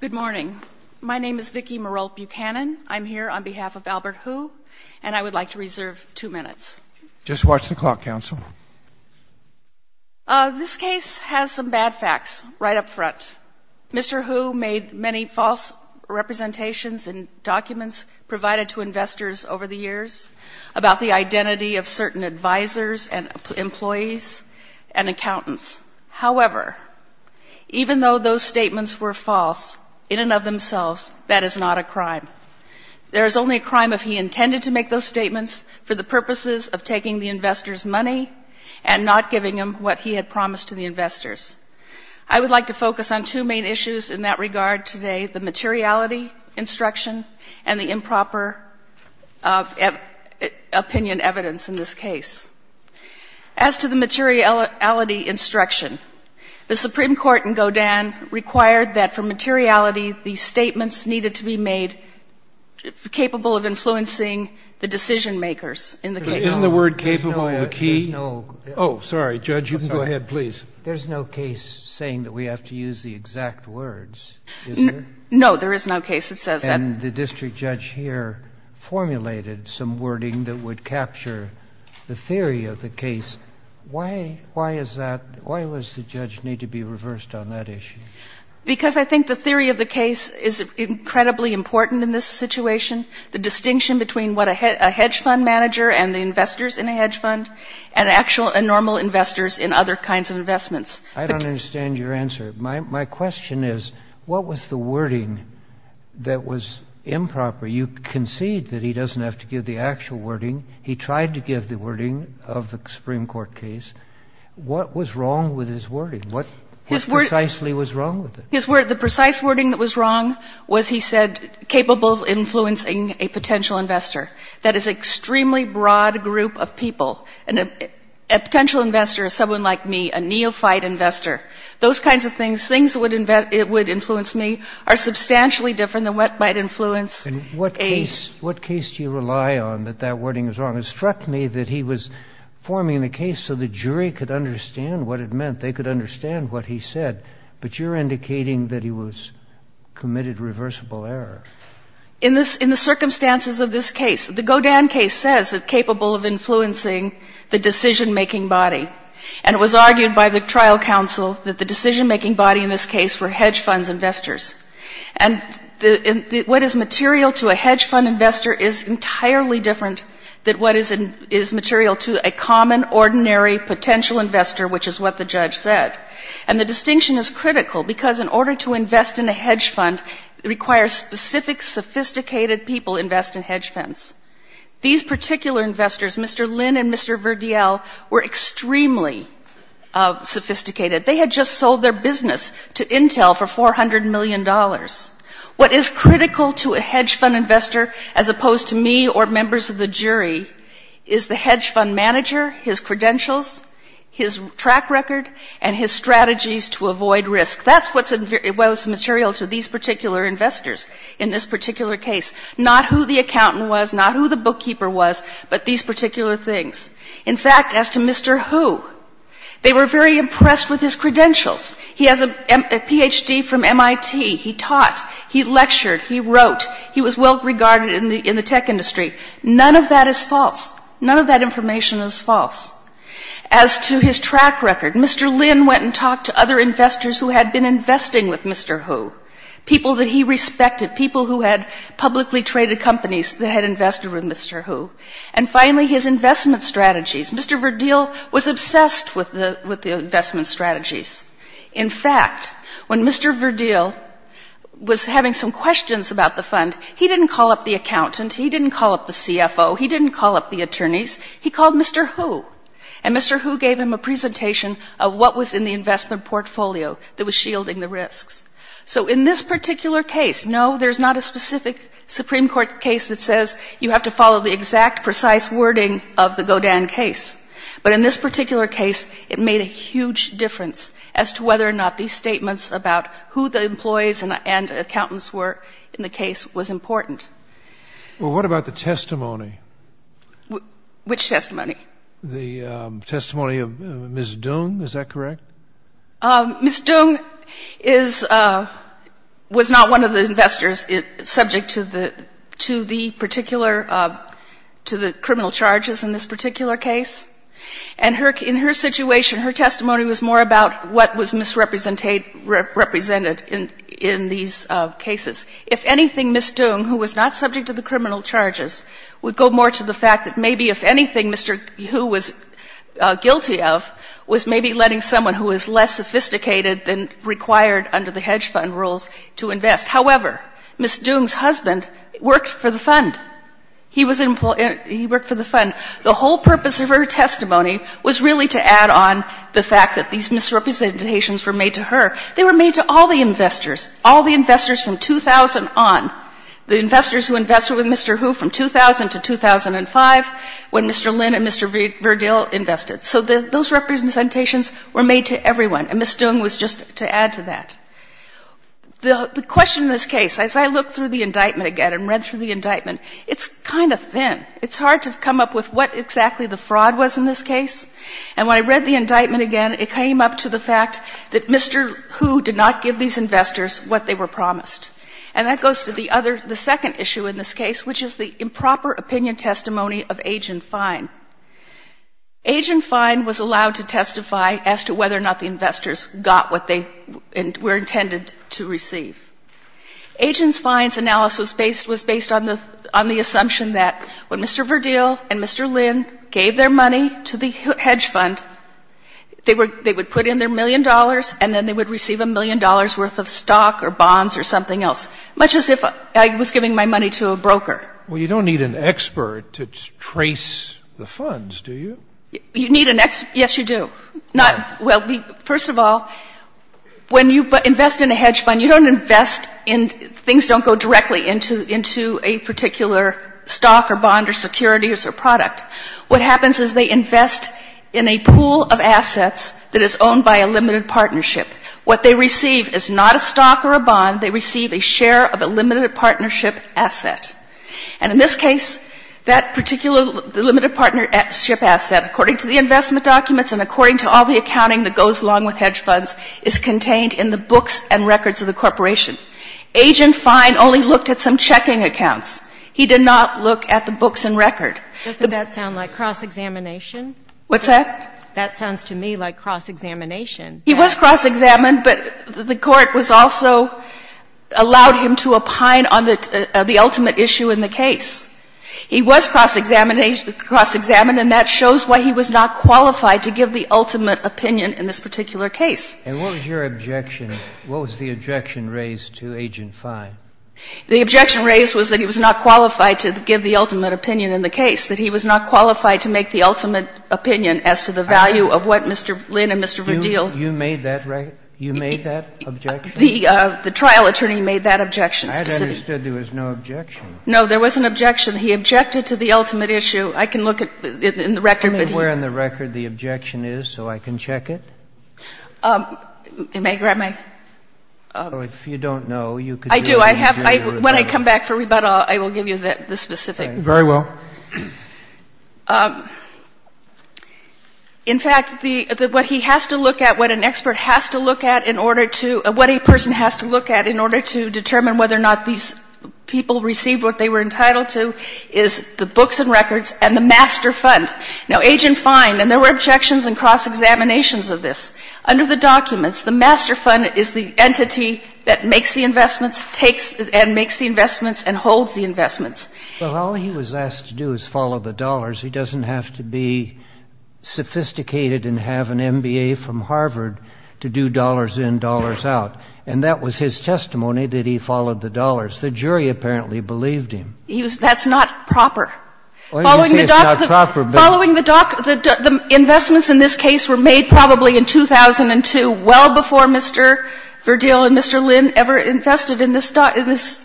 Good morning. My name is Vicki Merolt Buchanan. I'm here on behalf of Albert Hu, and I would like to reserve two minutes. Just watch the clock, Counsel. This case has some bad facts right up front. Mr. Hu made many false representations in documents provided to investors over the years about the identity of certain advisers and accountants. However, even though those statements were false in and of themselves, that is not a crime. There is only a crime if he intended to make those statements for the purposes of taking the investors' money and not giving them what he had promised to the investors. I would like to focus on two main issues in that regard today, the materiality instruction and the improper opinion evidence in this case. As to the materiality instruction, the Supreme Court in Godin required that for materiality, the statements needed to be made capable of influencing the decision-makers in the case. Isn't the word capable the key? No. Oh, sorry. Judge, you can go ahead, please. There's no case saying that we have to use the exact words, is there? No, there is no case that says that. And the district judge here formulated some wording that would capture the theory of the case. Why is that? Why does the judge need to be reversed on that issue? Because I think the theory of the case is incredibly important in this situation, the distinction between what a hedge fund manager and the investors in a hedge fund and actual and normal investors in other kinds of investments. I don't understand your answer. My question is, what was the wording that was improper? You concede that he doesn't have to give the actual wording. He tried to give the wording of the Supreme Court case. What was wrong with his wording? What precisely was wrong with it? The precise wording that was wrong was, he said, capable of influencing a potential investor. That is an extremely broad group of people. A potential investor is someone like me, a neophyte investor. Those kinds of things, things that would influence me are substantially different than what might influence a... And what case do you rely on that that wording was wrong? It struck me that he was forming the case so the jury could understand what it meant. They could understand what he said. But you're indicating that he was committed reversible error. In the circumstances of this case, the Godin case says that capable of influencing the decision-making body. And it was argued by the trial counsel that the decision-making body in this case were hedge funds investors. And what is material to a hedge fund investor is entirely different than what is material to a common, ordinary potential investor, which is what the judge said. And the distinction is critical, because in order to invest in a hedge fund, it requires specific, sophisticated people invest in hedge funds. These particular investors, Mr. Lin and Mr. Verdiel, were extremely sophisticated. They had just sold their business to Intel for $400 million. What is critical to a hedge fund investor, as opposed to me or members of the jury, is the hedge fund manager, his credentials, his track record, and his strategies to avoid risk. That's what's material to these particular investors in this particular case. Not who the accountant was, not who the bookkeeper was, but these particular things. In fact, as to Mr. Hu, they were very impressed with his credentials. He has a PhD from MIT. He taught. He lectured. He wrote. He was well regarded in the tech industry. None of that is false. None of that information is false. As to his track record, Mr. Lin went and talked to other investors who had been that had invested with Mr. Hu. And finally, his investment strategies. Mr. Verdiel was obsessed with the investment strategies. In fact, when Mr. Verdiel was having some questions about the fund, he didn't call up the accountant. He didn't call up the CFO. He didn't call up the attorneys. He called Mr. Hu. And Mr. Hu gave him a presentation of what was in the investment portfolio that was shielding the risks. So in this particular case, no, there's not a specific Supreme Court case that says you have to follow the exact precise wording of the Godin case. But in this particular case, it made a huge difference as to whether or not these statements about who the employees and accountants were in the case was important. Well, what about the testimony? Which testimony? The testimony of Ms. Dung, is that correct? Ms. Dung is, was not one of the investors subject to the, to the particular, to the criminal charges in this particular case. And her, in her situation, her testimony was more about what was misrepresented in, in these cases. If anything, Ms. Dung, who was not subject to the criminal charges, would go more to the fact that maybe if anything, Mr. Hu was guilty of, was maybe letting someone who was less sophisticated than required under the hedge fund rules to invest. However, Ms. Dung's husband worked for the fund. He was in, he worked for the fund. The whole purpose of her testimony was really to add on the fact that these misrepresentations were made to her. They were made to all the investors, all the investors from 2000 on. The investors who invested with Mr. Hu from 2000 to 2005, when Mr. Lin and Mr. Verdil invested. So the, those representations were made to everyone, and Ms. Dung was just to add to that. The, the question in this case, as I look through the indictment again and read through the indictment, it's kind of thin. It's hard to come up with what exactly the fraud was in this case. And when I read the indictment again, it came up to the fact that Mr. Hu did not give these investors what they were promised. And that goes to the other, the second issue in this case, which is the improper opinion testimony of Agent Fine. Agent Fine was allowed to testify as to whether or not the investors got what they were intended to receive. Agent Fine's analysis was based on the, on the assumption that when Mr. Verdil and Mr. Lin gave their money to the hedge fund, they were, they would put in their million dollars and then they would receive a million dollars worth of stock or bonds or something else. Much as if I was giving my money to a broker. Well, you don't need an expert to trace the funds, do you? You need an expert, yes, you do. Not, well, first of all, when you invest in a hedge fund, you don't invest in, things don't go directly into, into a particular stock or bond or securities or product. What happens is they invest in a pool of assets that is owned by a limited partnership. What they receive is not a stock or a bond. They receive a share of a limited partnership asset. And in this case, that particular, the limited partnership asset, according to the investment documents and according to all the accounting that goes along with hedge funds, is contained in the books and records of the corporation. Agent Fine only looked at some checking accounts. He did not look at the books and record. Doesn't that sound like cross-examination? What's that? That sounds to me like cross-examination. He was cross-examined, but the Court was also, allowed him to opine on the, the ultimate issue in the case. He was cross-examined, and that shows why he was not qualified to give the ultimate opinion in this particular case. And what was your objection, what was the objection raised to Agent Fine? The objection raised was that he was not qualified to give the ultimate opinion in the case, that he was not qualified to make the ultimate opinion as to the value of what Mr. Lynn and Mr. Verdeel. You made that, you made that objection? The trial attorney made that objection. I had understood there was no objection. No, there was an objection. He objected to the ultimate issue. I can look at it in the record, but he. Can you tell me where in the record the objection is so I can check it? May I grab my? If you don't know, you could do it. I do. I have, when I come back for rebuttal, I will give you the specific. Very well. In fact, the, what he has to look at, what an expert has to look at in order to, what a person has to look at in order to determine whether or not these people receive what they were entitled to is the books and records and the master fund. Now, Agent Fine, and there were objections and cross-examinations of this. Under the documents, the master fund is the entity that makes the investments, takes and makes the investments and holds the investments. Well, all he was asked to do is follow the dollars. He doesn't have to be sophisticated and have an MBA from Harvard to do dollars in, dollars out. And that was his testimony, that he followed the dollars. The jury apparently believed him. He was, that's not proper. Following the doc, following the doc, the investments in this case were made probably in 2002, well before Mr. Verdil and Mr. Lynn ever invested in this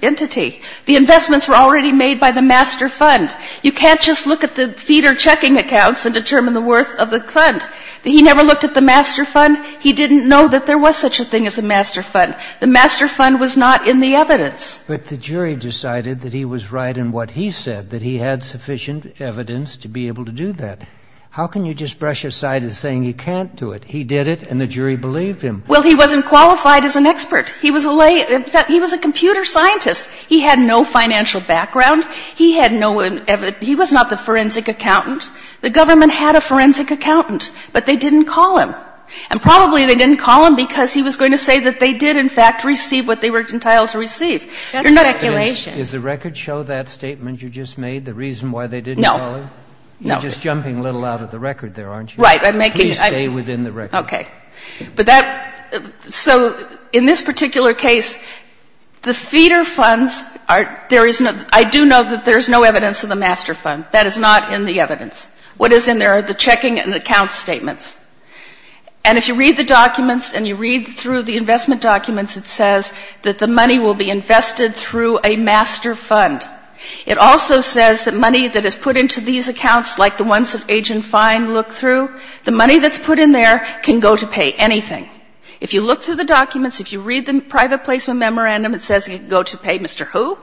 entity. The investments were already made by the master fund. You can't just look at the feeder checking accounts and determine the worth of the fund. He never looked at the master fund. He didn't know that there was such a thing as a master fund. The master fund was not in the evidence. But the jury decided that he was right in what he said, that he had sufficient evidence to be able to do that. How can you just brush aside as saying he can't do it? He did it and the jury believed him. Well, he wasn't qualified as an expert. He was a lay, in fact, he was a computer scientist. He had no financial background. He had no, he was not the forensic accountant. The government had a forensic accountant, but they didn't call him. And probably they didn't call him because he was going to say that they did, in fact, receive what they were entitled to receive. You're not. Kagan. Sotomayor. Is the record show that statement you just made, the reason why they didn't call him? No. No. You're just jumping a little out of the record there, aren't you? Right. I'm making. Please stay within the record. Okay. But that, so in this particular case, the feeder funds are, there is no, I do know that there is no evidence of the master fund. That is not in the evidence. What is in there are the checking and account statements. And if you read the documents and you read through the investment documents, it says that the money will be invested through a master fund. It also says that money that is put into these accounts, like the ones that Agent Fine looked at, are simply the books and records, are simply several checking So the master fund is not going to go to pay anything. If you look through the documents, if you read the private placement memorandum, it says it can go to pay Mr. Who.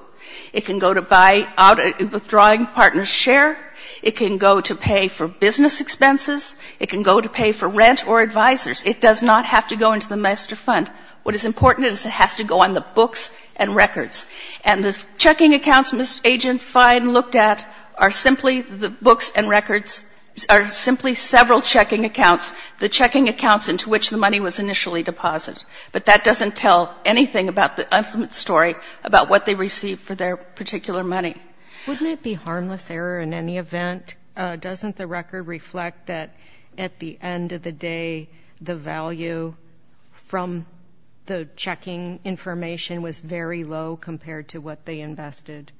It can go to buy out a withdrawing partner's share. It can go to pay for business expenses. It can go to pay for rent or advisors. It does not have to go into the master fund. What is important is it has to go on the books and records. And the checking accounts Mr. Agent Fine looked at are simply the books and records, are simply several checking accounts, the checking accounts into which the money was initially deposited. But that doesn't tell anything about the ultimate story about what they received for their particular money. Wouldn't it be harmless error in any event? Doesn't the record reflect that at the end of the day the value from the checking information was very low compared to what they invested?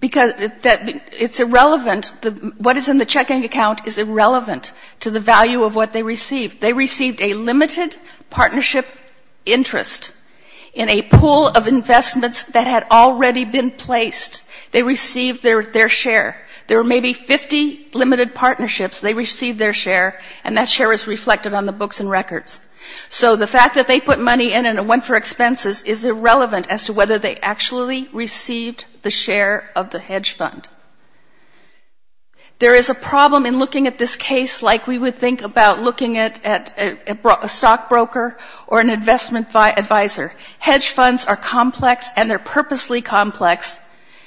Because it's irrelevant, what is in the checking account is irrelevant to the value of what they received. They received a limited partnership interest in a pool of investments that had already been placed. They received their share. There were maybe 50 limited partnerships. They received their share and that share is reflected on the books and records. So the fact that they put money in and it went for expenses is irrelevant as to whether they actually received the share of the hedge fund. There is a problem in looking at this case like we would think about looking at a stockbroker or an investment advisor. Hedge funds are complex and they're purposely complex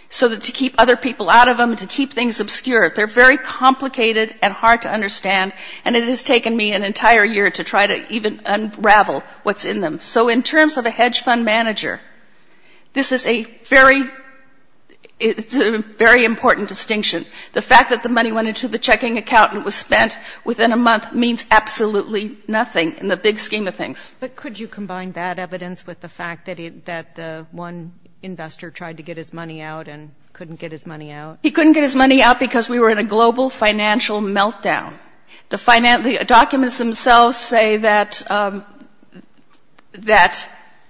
so that to keep other people out of them, to keep things obscure, they're very complicated and hard to understand and it has taken me an entire year to try to even unravel what's in them. So in terms of a hedge fund manager, this is a very, it's a very important distinction. The fact that the money went into the checking account and was spent within a month means absolutely nothing in the big scheme of things. But could you combine that evidence with the fact that one investor tried to get his money out and couldn't get his money out? He couldn't get his money out because we were in a global financial meltdown. The documents themselves say that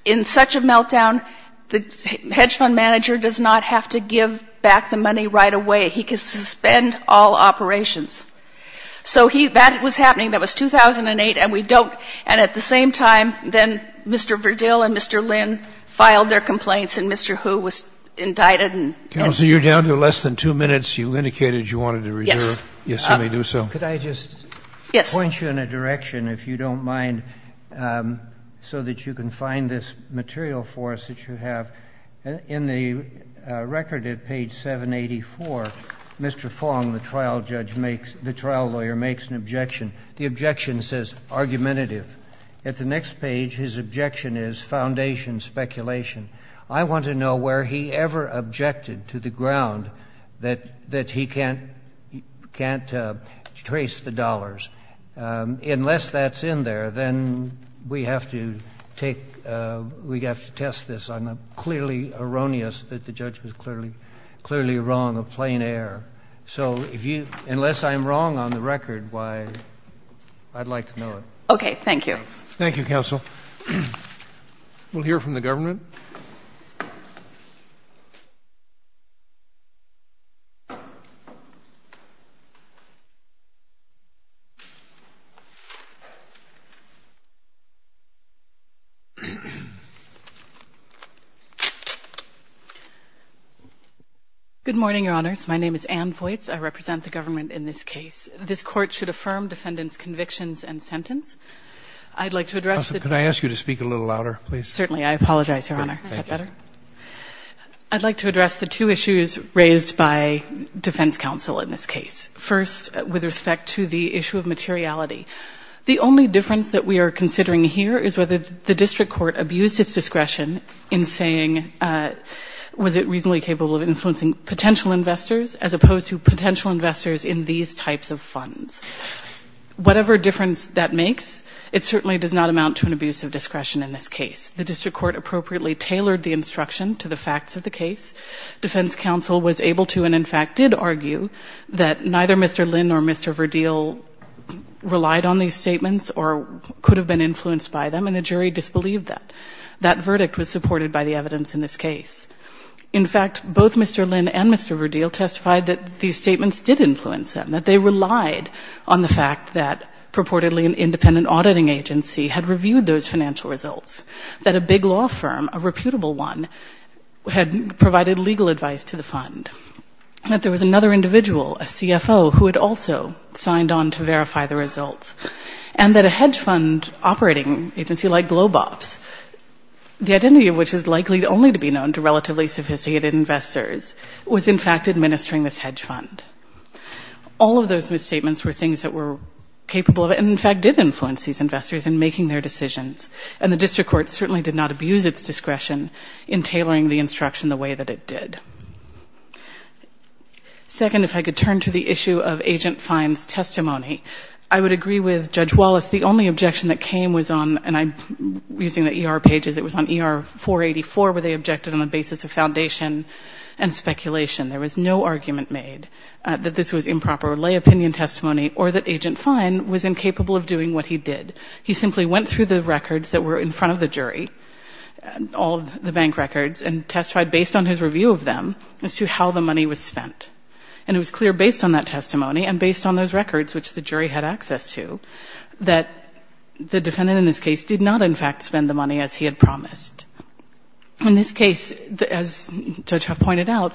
in such a meltdown, the hedge fund manager does not have to give back the money right away. He can suspend all operations. So he, that was happening, that was 2008 and we don't, and at the same time, then Mr. Verdil and Mr. Lin filed their complaints and Mr. Hu was indicted and. Scalia. Counsel, you're down to less than two minutes. You indicated you wanted to reserve. Yes. Yes, I may do so. Roberts. Could I just point you in a direction, if you don't mind, so that you can find this material for us that you have. In the record at page 784, Mr. Fong, the trial judge makes, the trial lawyer makes an objection. The objection says argumentative. At the next page, his objection is foundation speculation. I want to know where he ever objected to the ground that he can't trace the dollars. Unless that's in there, then we have to take, we have to test this. I'm clearly erroneous that the judge was clearly, clearly wrong of plain air. So if you, unless I'm wrong on the record, why, I'd like to know it. Okay. Thank you. Thank you, counsel. We'll hear from the government. Good morning, Your Honors. My name is Ann Voights. I represent the government in this case. This court should affirm defendant's convictions and sentence. I'd like to address the Counsel, could I ask you to speak a little louder, please? Certainly. I apologize, Your Honor. Is that better? I'd like to address the two issues raised by defense counsel in this case. First, with respect to the issue of materiality. The only difference that we are considering here is whether the district court abused its discretion in saying, was it reasonably capable of influencing potential investors as opposed to potential investors in these types of funds? Whatever difference that makes, it certainly does not amount to an abuse of discretion in this case. The district court appropriately tailored the instruction to the facts of the case. Defense counsel was able to and, in fact, did argue that neither Mr. Lynn or Mr. Verdeel relied on these statements or could have been influenced by them, and the jury disbelieved that. That verdict was supported by the evidence in this case. In fact, both Mr. Lynn and Mr. Verdeel testified that these statements did influence them, that they relied on the fact that purportedly an independent auditing agency had reviewed those financial results, that a big law firm, a reputable one, had provided legal advice to the fund, that there was another individual, a CFO, who had also signed on to verify the results, and that a hedge fund operating agency like GlobeOps, the identity of which is likely only to be known to relatively sophisticated investors, was, in fact, administering this hedge fund. All of those misstatements were things that were capable of and, in fact, did influence these investors in making their decisions, and the district court certainly did not abuse its discretion in tailoring the instruction the way that it did. Second, if I could turn to the issue of Agent Fine's testimony, I would agree with Judge Wallace. The only objection that came was on, and I'm using the ER pages, it was on ER 484, where they objected on the basis of foundation and speculation. There was no argument made that this was improper lay opinion testimony or that Agent Fine was incapable of doing what he did. He simply went through the records that were in front of the jury, all the bank records, and testified based on his review of them as to how the money was spent. And it was clear based on that testimony and based on those records, which the jury had access to, that the defendant in this case did not, in fact, spend the money as he had promised. In this case, as Judge Huff pointed out,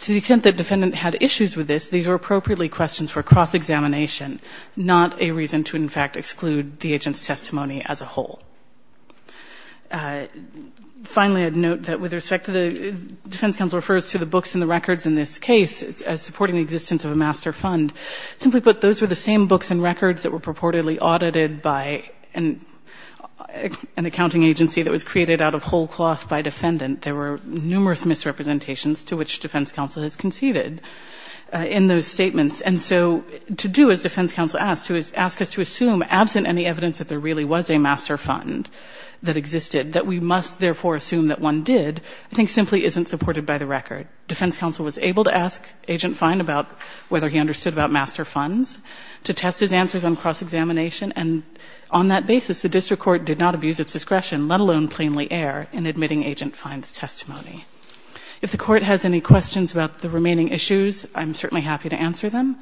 to the extent that the defendant had issues with this, these were appropriately questions for cross-examination, not a reason to, in fact, exclude the agent's testimony as a whole. Finally, I'd note that with respect to the defense counsel refers to the books and the records in this case as supporting the existence of a master fund. Simply put, those were the same books and records that were purportedly audited by an accounting agency that was created out of whole cloth by defendant. There were numerous misrepresentations to which defense counsel has conceded. In those statements, and so to do as defense counsel asked, to ask us to assume absent any evidence that there really was a master fund that existed, that we must therefore assume that one did, I think simply isn't supported by the record. Defense counsel was able to ask Agent Fine about whether he understood about master funds to test his answers on cross-examination. And on that basis, the district court did not abuse its discretion, let alone plainly err, in admitting Agent Fine's testimony. If the Court has any questions about the remaining issues, I'm certainly happy to answer them.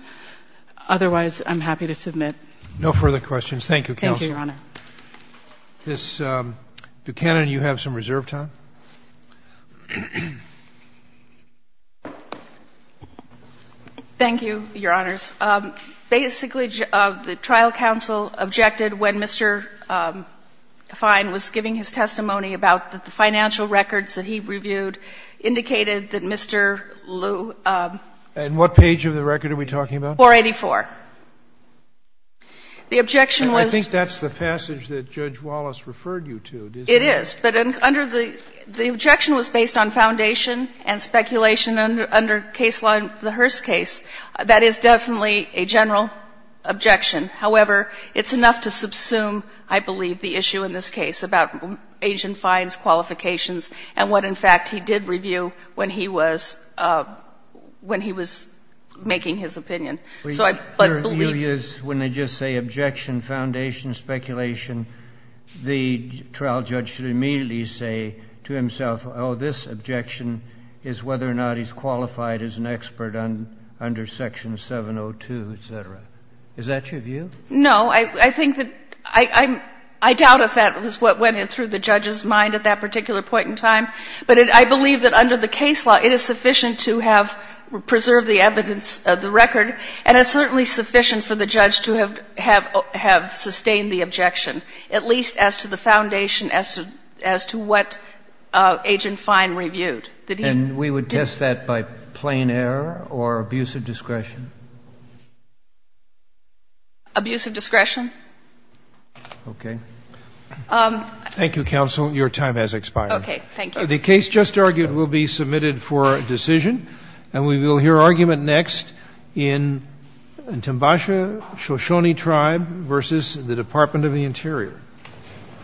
Otherwise, I'm happy to submit. No further questions. Thank you, counsel. Thank you, Your Honor. Ms. Buchanan, you have some reserve time. Thank you, Your Honors. Basically, the trial counsel objected when Mr. Fine was giving his testimony about the financial records that he reviewed, indicated that Mr. Lew. And what page of the record are we talking about? 484. The objection was. I think that's the passage that Judge Wallace referred you to. It is. But under the — the objection was based on foundation and speculation under case law in the Hearst case. That is definitely a general objection. However, it's enough to subsume, I believe, the issue in this case about Agent Fine's qualifications and what, in fact, he did review when he was — when he was making his opinion. So I believe. When they just say objection, foundation, speculation, the trial judge should immediately say to himself, oh, this objection is whether or not he's qualified as an expert under Section 702, et cetera. Is that your view? No. I think that — I doubt if that was what went in through the judge's mind at that particular point in time. But I believe that under the case law, it is sufficient to have — preserve the evidence of the record, and it's certainly sufficient for the judge to have sustained the objection, at least as to the foundation as to what Agent Fine reviewed, that he did. And we would test that by plain error or abuse of discretion? Abuse of discretion. Okay. Thank you, counsel. Your time has expired. Okay. Thank you. The case just argued will be submitted for decision, and we will hear argument next in Timbasha Shoshone Tribe v. the Department of the Interior.